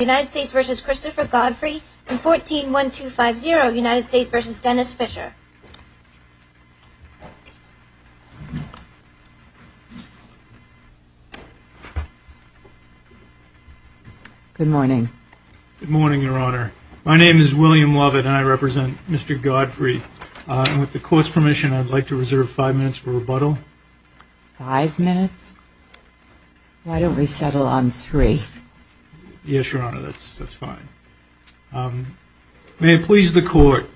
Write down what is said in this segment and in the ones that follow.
United States v. Christopher Godfrey and 14-1-2-5-0 United States v. Dennis Fischer Good morning. Good morning, Your Honor. My name is William Lovett and I represent Mr. Godfrey. With the Court's permission, I'd like to reserve five minutes for rebuttal. Five minutes? Why don't we settle on three? Yes, Your Honor, that's fine. May it please the Court,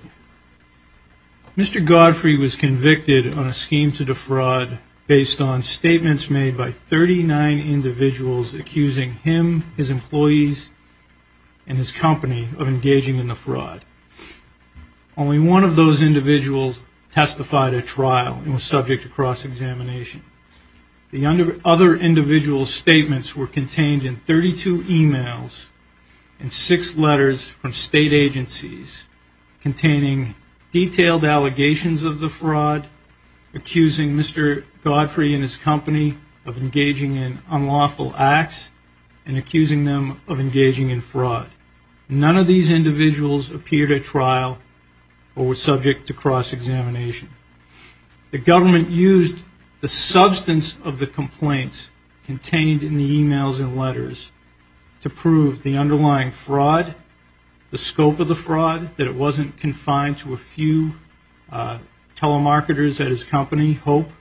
Mr. Godfrey was convicted on a scheme to defraud based on statements made by 39 individuals accusing him, his employees, and his company of engaging in the fraud. Only one of those individuals testified at trial and was subject to cross-examination. The other individual's statements were contained in 32 emails and six letters from state agencies containing detailed allegations of the fraud, accusing Mr. Godfrey and his company of engaging in unlawful acts, and accusing them of engaging in fraud. None of these individuals appeared at trial or were subject to cross-examination. The government used the substance of the complaints contained in the emails and letters to prove the underlying fraud, the scope of the fraud, that it wasn't confined to a few telemarketers at his company, Hope.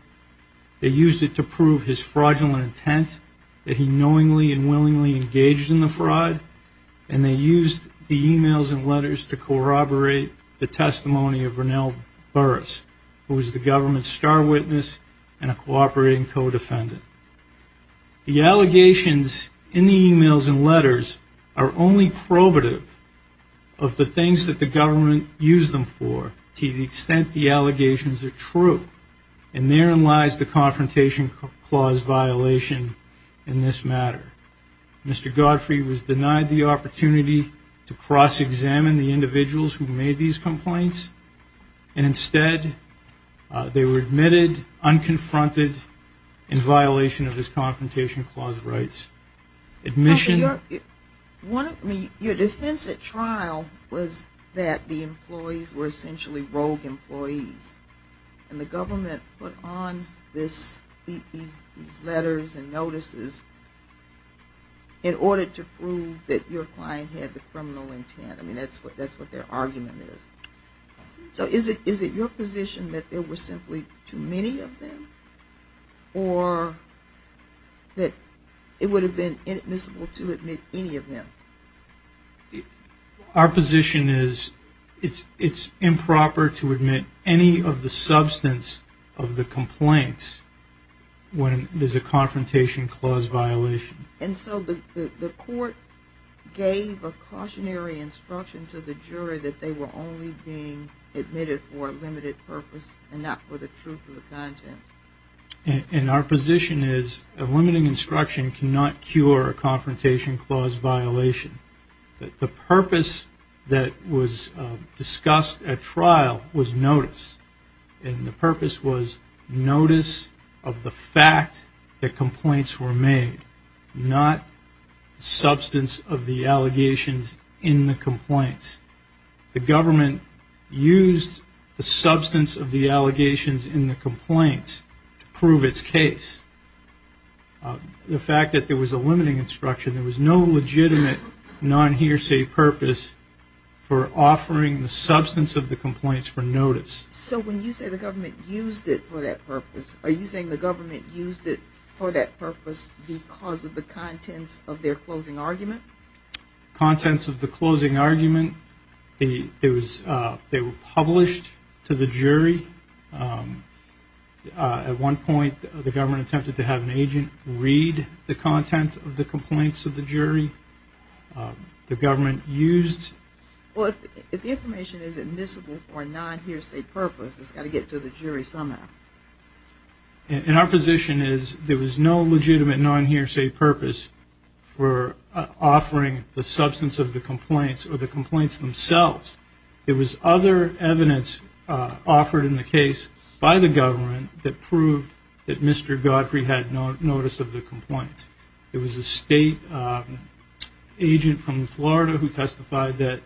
They used it to prove his fraudulent intent, that he knowingly and willingly engaged in the fraud, and they used the emails and letters to corroborate the testimony of Ronell Burris, who was the government's star witness and a cooperating co-defendant. The allegations in the emails and letters are only probative of the things that the government used them for to the extent the allegations are true, and therein lies the Confrontation Clause violation in this matter. Mr. Godfrey was denied the opportunity to cross-examine the individuals who made these complaints, and instead they were admitted unconfronted in violation of this Confrontation Clause rights. Admission... Your defense at trial was that the employees were essentially rogue employees, and the government put on these letters and notices in order to prove that your client had the criminal intent. I mean, that's what their argument is. So is it your position that there were simply too many of them, or that it would have been inadmissible to admit any of them? Our position is it's improper to admit any of the substance of the complaints when there's a Confrontation Clause violation. And so the court gave a cautionary instruction to the jury that they were only being admitted for a limited purpose and not for the truth of the content. And our position is a limiting instruction cannot cure a Confrontation Clause violation. The purpose that was discussed at trial was notice, and the purpose was notice of the fact that complaints were made, not substance of the allegations in the complaints. The government used the substance of the allegations in the complaints to prove its case. The fact that there was a limiting instruction, there was no legitimate non-hearsay purpose for offering the substance of the complaints for notice. So when you say the government used it for that purpose, are you saying the government used it for that purpose because of the contents of their closing argument? Contents of the closing argument. They were published to the jury. At one point, the government attempted to have an agent read the contents of the complaints of the jury. The government used... Well, if the information is admissible for a non-hearsay purpose, it's got to get to the jury somehow. And our position is there was no legitimate non-hearsay purpose for offering the substance of the complaints or the complaints themselves. There was other evidence offered in the case by the government that proved that Mr. Godfrey had no notice of the complaints. There was a state agent from Florida who testified that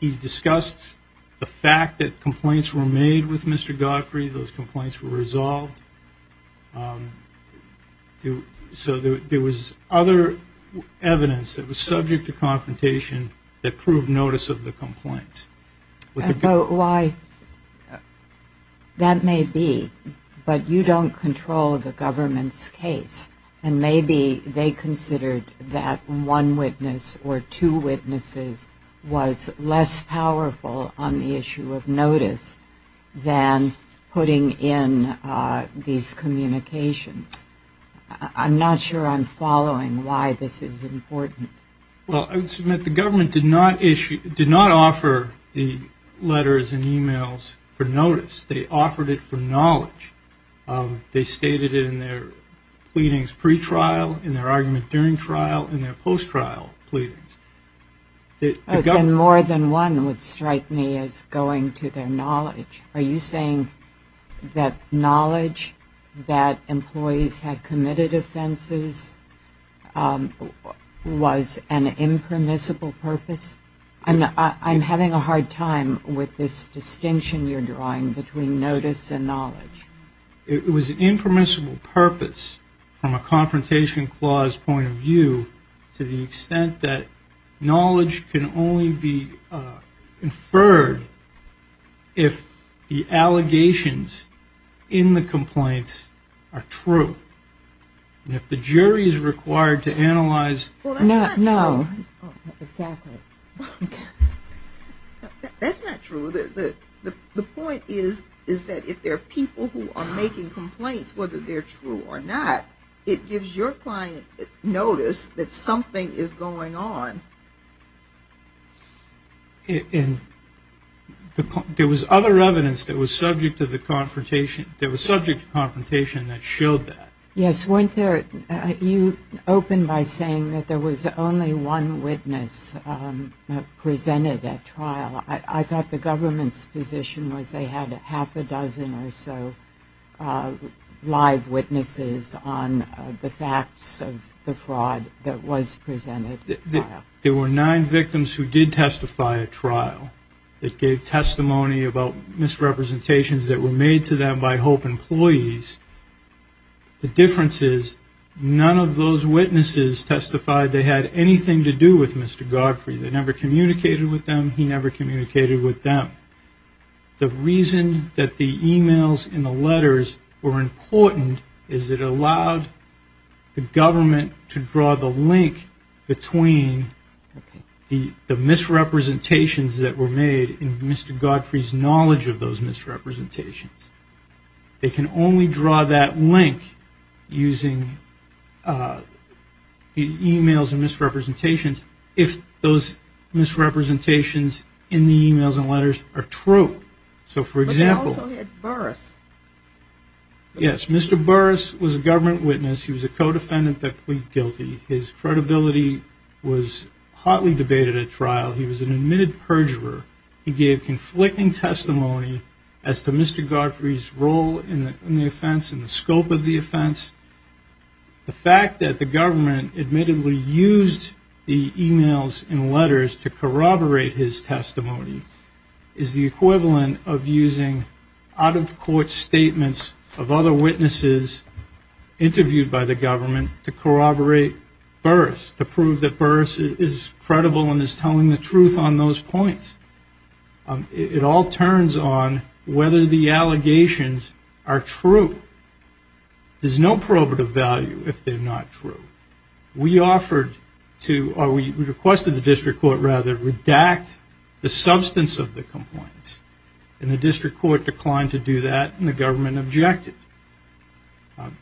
he discussed the fact that complaints were made with Mr. Godfrey, those complaints were resolved. So there was other evidence that was subject to confrontation that proved notice of the complaints. Why... That may be, but you don't control the government's case. And maybe they considered that one witness or two witnesses was less powerful on the issue of notice than putting in these communications. I'm not sure I'm following why this is important. Well, I would submit the government did not offer the letters and emails for notice. They offered it for knowledge. They stated it in their pleadings pre-trial, in their argument during trial, in their post-trial pleadings. More than one would strike me as going to their knowledge. Are you saying that knowledge that employees had committed offenses was an impermissible purpose? I'm having a hard time with this distinction you're drawing between notice and knowledge. It was an impermissible purpose from a confrontation clause point of view to the extent that knowledge can only be inferred if the allegations in the complaints are true. And if the jury is required to analyze... Well, that's not true. No, exactly. That's not true. The point is that if there are people who are making complaints, whether they're true or not, it gives your client notice that something is going on. There was other evidence that was subject to confrontation that showed that. Yes, weren't there... You opened by saying that there was only one witness presented at trial. I thought the government's position was they had half a dozen or so live witnesses on the facts of the fraud that was presented at trial. There were nine victims who did testify at trial that gave testimony about misrepresentations that were made to them by HOPE employees. The difference is none of those witnesses testified they had anything to do with Mr. Godfrey. They never communicated with them. He never communicated with them. The reason that the e-mails and the letters were important is it allowed the government to draw the link between the misrepresentations that were made and Mr. Godfrey's knowledge of those misrepresentations. They can only draw that link using the e-mails and misrepresentations if those misrepresentations in the e-mails and letters are true. So, for example... But they also had Burris. Yes, Mr. Burris was a government witness. He was a co-defendant that plead guilty. His credibility was hotly debated at trial. He was an admitted perjurer. He gave conflicting testimony as to Mr. Godfrey's role in the offense and the scope of the offense. The fact that the government admittedly used the e-mails and letters to corroborate his testimony is the equivalent of using out-of-court statements of other witnesses interviewed by the government to corroborate Burris, to prove that Burris is credible and is telling the truth on those points. It all turns on whether the allegations are true. There's no probative value if they're not true. We offered to, or we requested the district court, rather, redact the substance of the complaints, and the district court declined to do that, and the government objected.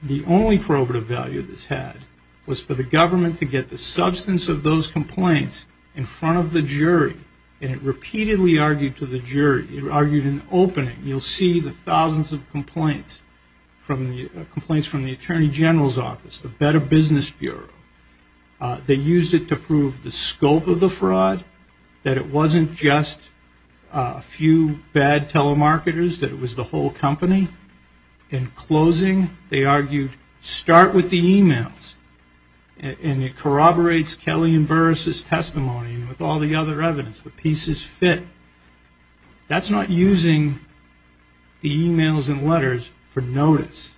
The only probative value this had was for the government to get the substance of those complaints in front of the jury, and it repeatedly argued to the jury. It argued in opening. You'll see the thousands of complaints from the Attorney General's office, the Better Business Bureau. They used it to prove the scope of the fraud, that it wasn't just a few bad telemarketers, that it was the whole company. In closing, they argued, start with the e-mails, and it corroborates Kelly and Burris' testimony with all the other evidence. The pieces fit. That's not using the e-mails and letters for notice.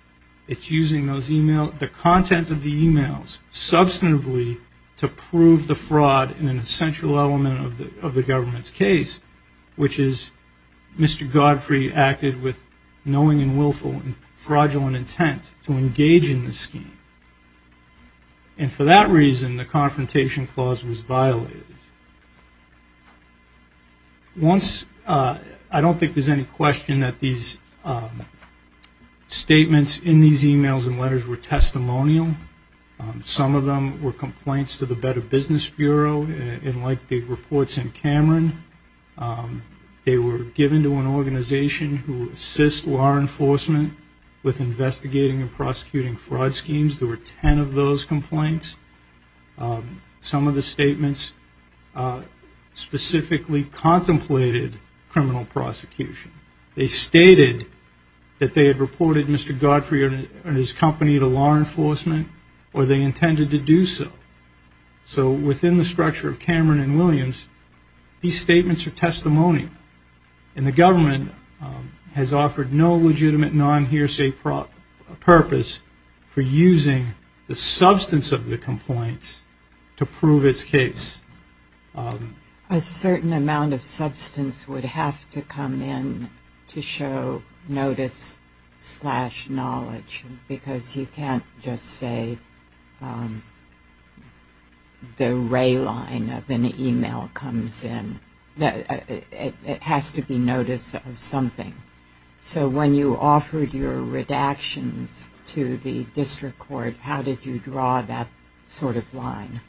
It's using those e-mails, the content of the e-mails, substantively to prove the fraud in an essential element of the government's case, which is Mr. Godfrey acted with knowing and willful and fraudulent intent to engage in the scheme. And for that reason, the Confrontation Clause was violated. I don't think there's any question that these statements in these e-mails and letters were testimonial. Some of them were complaints to the Better Business Bureau, and like the reports in Cameron, they were given to an organization who assists law enforcement with investigating and prosecuting fraud schemes. There were 10 of those complaints. Some of the statements specifically contemplated criminal prosecution. They stated that they had reported Mr. Godfrey and his company to law enforcement, or they intended to do so. So within the structure of Cameron and Williams, these statements are testimonial, and the government has offered no legitimate non-hearsay purpose for using the substance of the complaints to prove its case. A certain amount of substance would have to come in to show notice slash knowledge, because you can't just say the ray line of an e-mail comes in. It has to be notice of something. So when you offered your redactions to the district court, how did you draw that sort of line?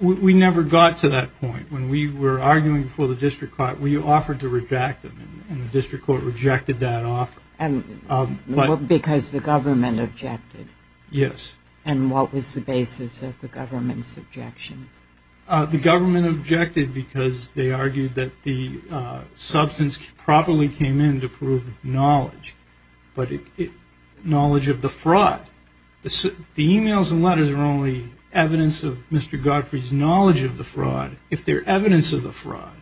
We never got to that point. When we were arguing before the district court, we offered to redact them, and the district court rejected that offer. Because the government objected? Yes. And what was the basis of the government's objections? The government objected because they argued that the substance probably came in to prove knowledge, but knowledge of the fraud. The e-mails and letters are only evidence of Mr. Godfrey's knowledge of the fraud if they're evidence of the fraud.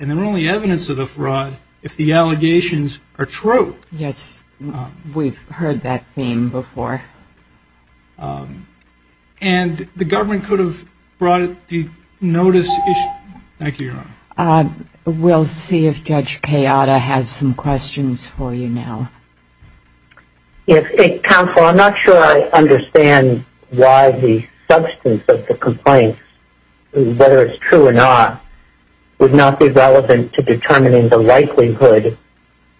And they're only evidence of the fraud if the allegations are true. Yes. We've heard that theme before. And the government could have brought the notice. Thank you, Your Honor. We'll see if Judge Kayada has some questions for you now. Counsel, I'm not sure I understand why the substance of the complaint, whether it's true or not, would not be relevant to determining the likelihood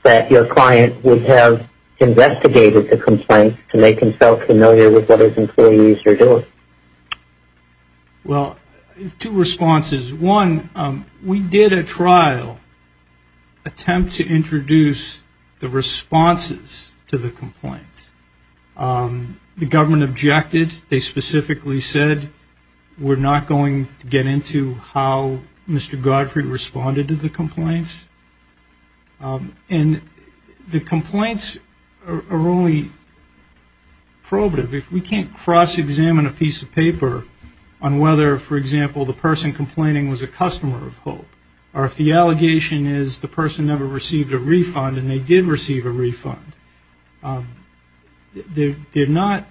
that your client would have investigated the complaint to make himself familiar with what his employees are doing. Well, two responses. One, we did a trial attempt to introduce the responses to the complaint. The government objected. They specifically said we're not going to get into how Mr. Godfrey responded to the complaints. And the complaints are only probative. If we can't cross-examine a piece of paper on whether, for example, the person complaining was a customer of HOPE, or if the allegation is the person never received a refund and they did receive a refund, they're not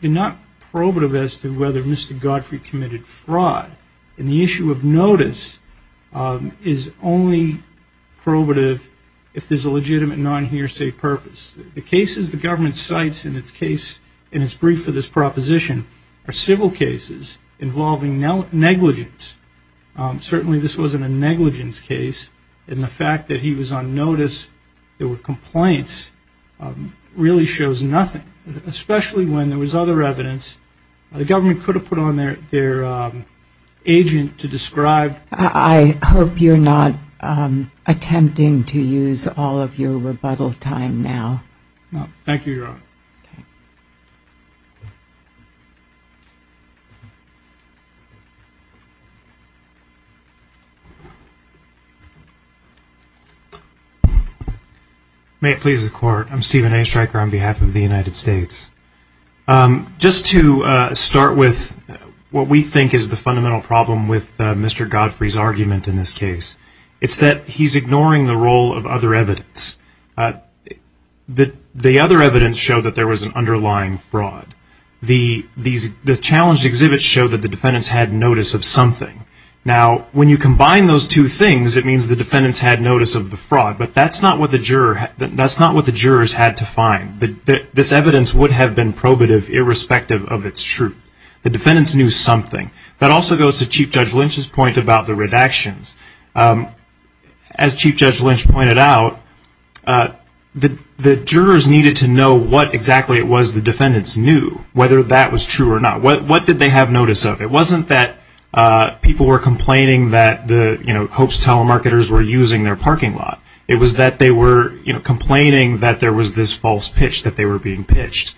probative as to whether Mr. Godfrey committed fraud. And the issue of notice is only probative if there's a legitimate non-hearsay purpose. The cases the government cites in its brief for this proposition are civil cases involving negligence. Certainly this wasn't a negligence case. And the fact that he was on notice there were complaints really shows nothing, especially when there was other evidence. The government could have put on their agent to describe. I hope you're not attempting to use all of your rebuttal time now. Thank you, Your Honor. May it please the Court. I'm Stephen A. Stryker on behalf of the United States. Just to start with what we think is the fundamental problem with Mr. Godfrey's argument in this case, it's that he's ignoring the role of other evidence. The other evidence showed that there was an underlying fraud. The challenged exhibits showed that the defendants had notice of something. Now, when you combine those two things, it means the defendants had notice of the fraud, but that's not what the jurors had to find. This evidence would have been probative irrespective of its truth. The defendants knew something. That also goes to Chief Judge Lynch's point about the redactions. As Chief Judge Lynch pointed out, the jurors needed to know what exactly it was the defendants knew, whether that was true or not. What did they have notice of? It wasn't that people were complaining that Koch telemarketers were using their parking lot. It was that they were complaining that there was this false pitch, that they were being pitched.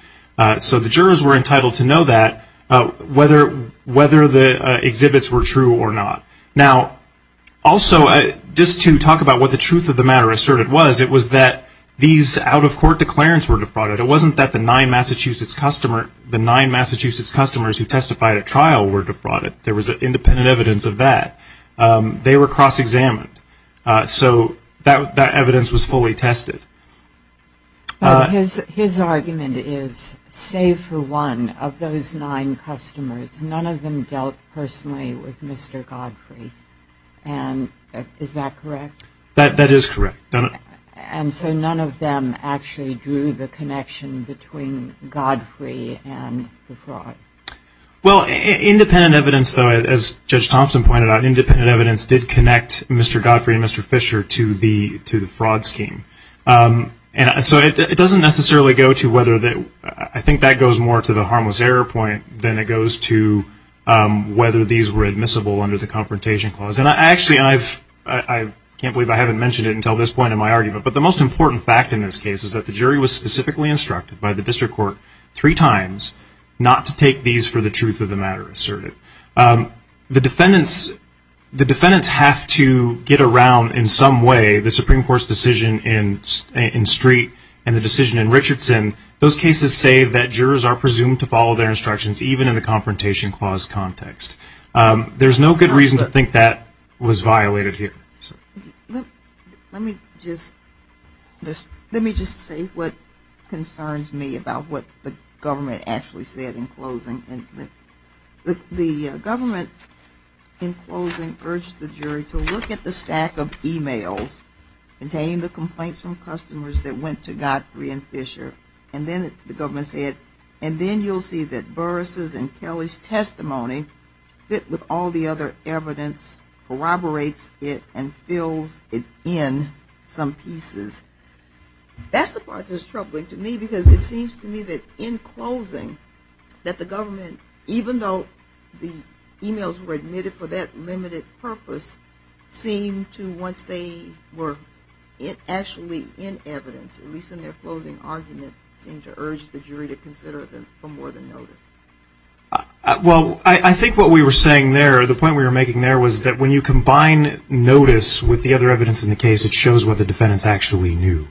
So the jurors were entitled to know that, whether the exhibits were true or not. Now, also, just to talk about what the truth of the matter asserted was, it was that these out-of-court declarants were defrauded. It wasn't that the nine Massachusetts customers who testified at trial were defrauded. There was independent evidence of that. They were cross-examined. So that evidence was fully tested. But his argument is, save for one of those nine customers, none of them dealt personally with Mr. Godfrey. And is that correct? That is correct. And so none of them actually drew the connection between Godfrey and the fraud? Well, independent evidence, though, as Judge Thompson pointed out, independent evidence did connect Mr. Godfrey and Mr. Fisher to the fraud scheme. And so it doesn't necessarily go to whether that ‑‑ I think that goes more to the harmless error point than it goes to whether these were admissible under the Confrontation Clause. And actually, I can't believe I haven't mentioned it until this point in my argument, but the most important fact in this case is that the jury was specifically instructed by the district court three times not to take these for the truth of the matter asserted. The defendants have to get around in some way the Supreme Court's decision in Street and the decision in Richardson. Those cases say that jurors are presumed to follow their instructions, even in the Confrontation Clause context. There's no good reason to think that was violated here. Let me just say what concerns me about what the government actually said in closing. The government, in closing, urged the jury to look at the stack of e‑mails containing the complaints from customers that went to Godfrey and Fisher. And then the government said, and then you'll see that Burris's and Kelly's testimony, fit with all the other evidence, corroborates it, and fills it in some pieces. That's the part that's troubling to me, because it seems to me that in closing, that the government, even though the e‑mails were admitted for that limited purpose, seemed to, once they were actually in evidence, at least in their closing argument, seemed to urge the jury to consider them for more than notice. Well, I think what we were saying there, the point we were making there, was that when you combine notice with the other evidence in the case, it shows what the defendants actually knew.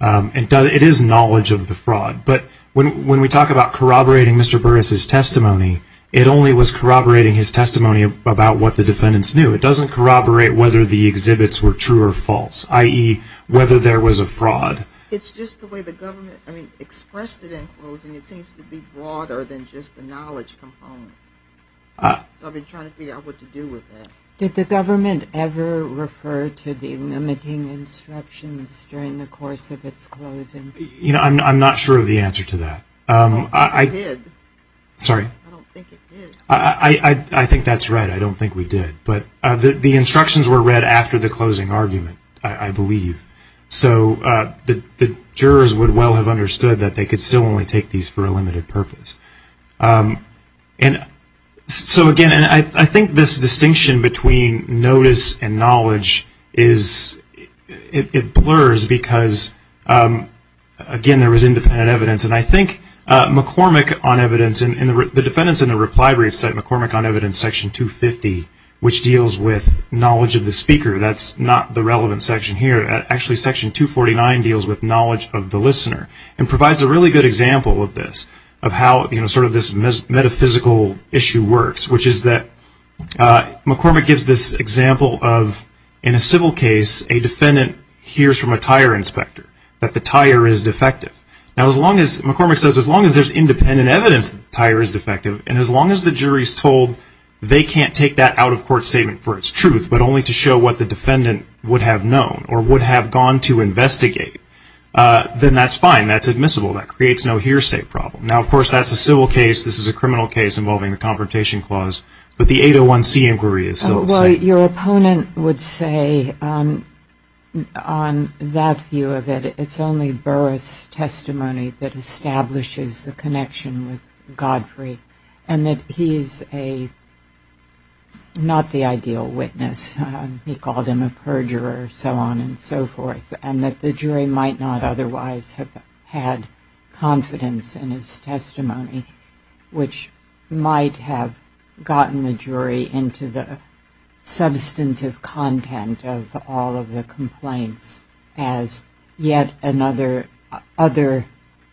It is knowledge of the fraud. But when we talk about corroborating Mr. Burris's testimony, it only was corroborating his testimony about what the defendants knew. It doesn't corroborate whether the exhibits were true or false, i.e., whether there was a fraud. It's just the way the government expressed it in closing, it seems to be broader than just the knowledge component. I've been trying to figure out what to do with that. Did the government ever refer to the limiting instructions during the course of its closing? I'm not sure of the answer to that. I don't think it did. Sorry? I don't think it did. I think that's right. I don't think we did. But the instructions were read after the closing argument, I believe. So the jurors would well have understood that they could still only take these for a limited purpose. So, again, I think this distinction between notice and knowledge, it blurs, because, again, there was independent evidence. And I think McCormick on evidence, the defendants in the reply brief cite McCormick on evidence section 250, which deals with knowledge of the speaker. That's not the relevant section here. Actually, section 249 deals with knowledge of the listener and provides a really good example of this, of how sort of this metaphysical issue works, which is that McCormick gives this example of, in a civil case, a defendant hears from a tire inspector that the tire is defective. Now, McCormick says as long as there's independent evidence that the tire is defective and as long as the jury's told they can't take that out-of-court statement for its truth but only to show what the defendant would have known or would have gone to investigate, then that's fine. That's admissible. That creates no hearsay problem. Now, of course, that's a civil case. This is a criminal case involving the Confrontation Clause. But the 801C inquiry is still the same. Well, your opponent would say on that view of it, it's only Burr's testimony that establishes the connection with Godfrey and that he's not the ideal witness. He called him a perjurer, so on and so forth, and that the jury might not otherwise have had confidence in his testimony, which might have gotten the jury into the substantive content of all of the complaints as yet another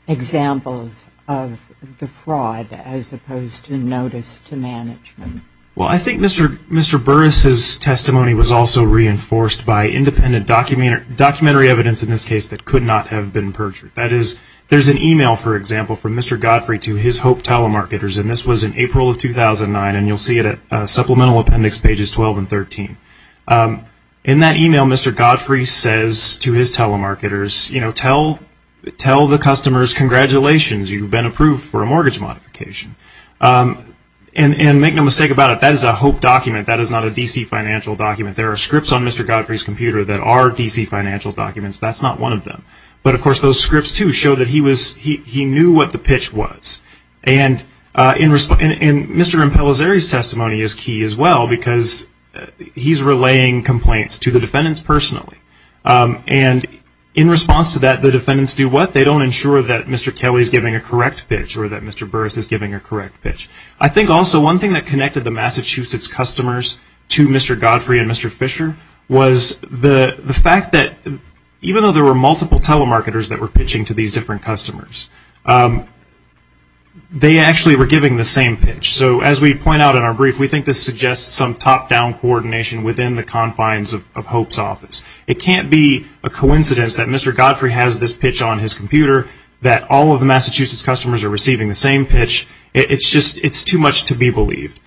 example of the fraud as opposed to notice to management. Well, I think Mr. Burr's testimony was also reinforced by independent documentary evidence in this case that could not have been perjured. That is, there's an email, for example, from Mr. Godfrey to his Hope telemarketers, and this was in April of 2009, and you'll see it at supplemental appendix pages 12 and 13. In that email, Mr. Godfrey says to his telemarketers, you know, tell the customers congratulations, you've been approved for a mortgage modification. And make no mistake about it, that is a Hope document. That is not a D.C. financial document. There are scripts on Mr. Godfrey's computer that are D.C. financial documents. That's not one of them. But, of course, those scripts, too, show that he knew what the pitch was. And Mr. Impelazeri's testimony is key as well, because he's relaying complaints to the defendants personally. And in response to that, the defendants do what? They don't ensure that Mr. Kelly's giving a correct pitch or that Mr. Burr's is giving a correct pitch. I think also one thing that connected the Massachusetts customers to Mr. Godfrey and Mr. Fisher was the fact that even though there were multiple telemarketers that were pitching to these different customers, they actually were giving the same pitch. So as we point out in our brief, we think this suggests some top-down coordination within the confines of Hope's office. It can't be a coincidence that Mr. Godfrey has this pitch on his computer, that all of the Massachusetts customers are receiving the same pitch. It's just too much to be believed.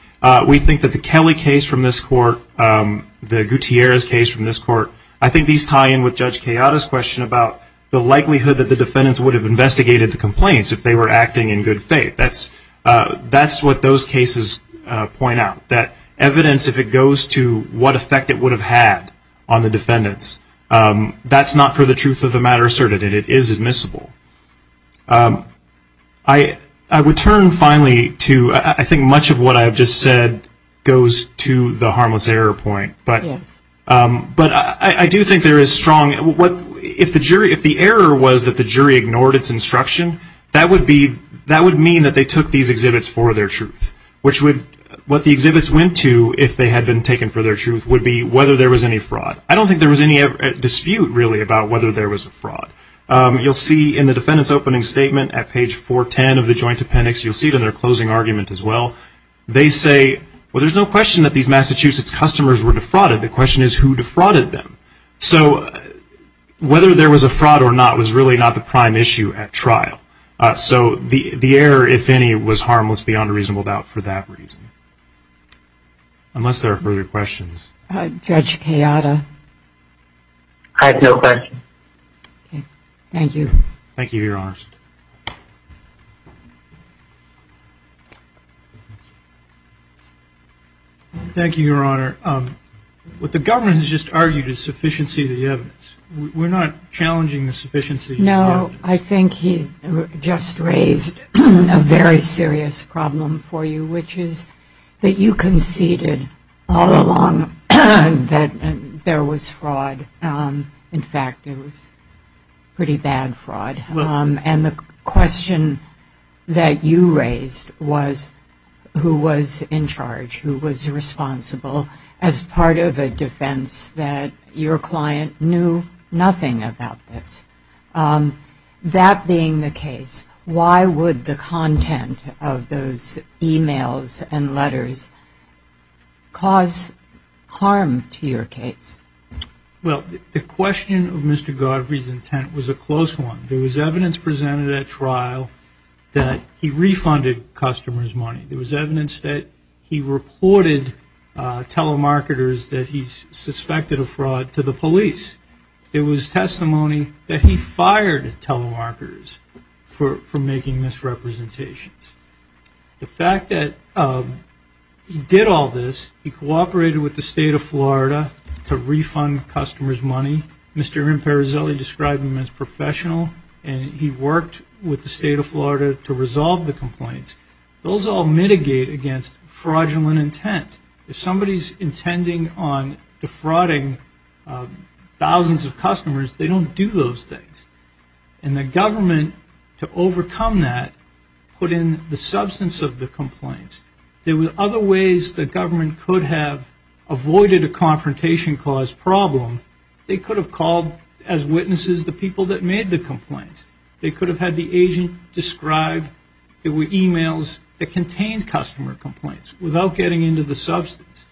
We think that the Kelly case from this court, the Gutierrez case from this court, I think these tie in with Judge Kayada's question about the likelihood that the defendants would have investigated the complaints if they were acting in good faith. That's what those cases point out, that evidence, if it goes to what effect it would have had on the defendants, that's not for the truth of the matter asserted. It is admissible. I would turn finally to I think much of what I have just said goes to the harmless error point. But I do think there is strong, if the error was that the jury ignored its instruction, that would mean that they took these exhibits for their truth. What the exhibits went to, if they had been taken for their truth, would be whether there was any fraud. I don't think there was any dispute really about whether there was a fraud. You'll see in the defendant's opening statement at page 410 of the joint appendix, you'll see it in their closing argument as well, they say, well, there's no question that these Massachusetts customers were defrauded. The question is who defrauded them. So whether there was a fraud or not was really not the prime issue at trial. So the error, if any, was harmless beyond a reasonable doubt for that reason. Unless there are further questions. Judge Kayada. I have no question. Okay. Thank you. Thank you, Your Honors. Thank you, Your Honor. What the government has just argued is sufficiency of the evidence. We're not challenging the sufficiency of the evidence. No, I think he's just raised a very serious problem for you, which is that you conceded all along that there was fraud. In fact, it was pretty bad fraud. And the question that you raised was who was in charge, who was responsible as part of a defense that your client knew nothing about this. That being the case, why would the content of those e-mails and letters cause harm to your case? Well, the question of Mr. Godfrey's intent was a close one. There was evidence presented at trial that he refunded customers' money. There was evidence that he reported telemarketers that he suspected of fraud to the police. There was testimony that he fired telemarketers for making misrepresentations. The fact that he did all this, he cooperated with the State of Florida to refund customers' money. Mr. Imparizelli described him as professional, and he worked with the State of Florida to resolve the complaints. Those all mitigate against fraudulent intent. If somebody's intending on defrauding thousands of customers, they don't do those things. And the government, to overcome that, put in the substance of the complaints. There were other ways the government could have avoided a confrontation cause problem. They could have called as witnesses the people that made the complaints. They could have had the agent describe there were e-mails that contained customer complaints without getting into the substance.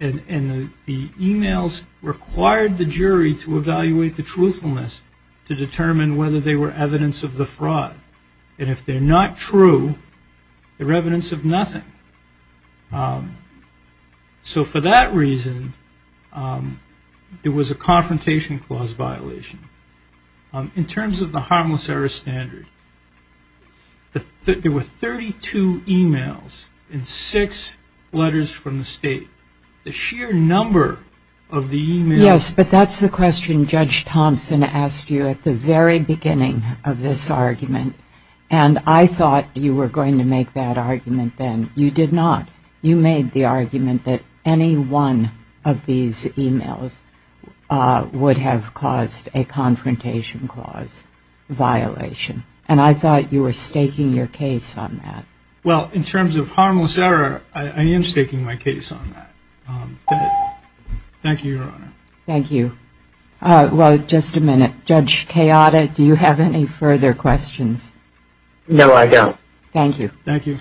And the e-mails required the jury to evaluate the truthfulness to determine whether they were evidence of the fraud. And if they're not true, they're evidence of nothing. So for that reason, there was a confrontation clause violation. In terms of the harmless error standard, there were 32 e-mails and six letters from the State. The sheer number of the e-mails- Yes, but that's the question Judge Thompson asked you at the very beginning of this argument. And I thought you were going to make that argument then. You did not. You made the argument that any one of these e-mails would have caused a confrontation clause violation. And I thought you were staking your case on that. Well, in terms of harmless error, I am staking my case on that. Thank you, Your Honor. Thank you. Well, just a minute. Judge Chiata, do you have any further questions? No, I don't. Thank you. Thank you.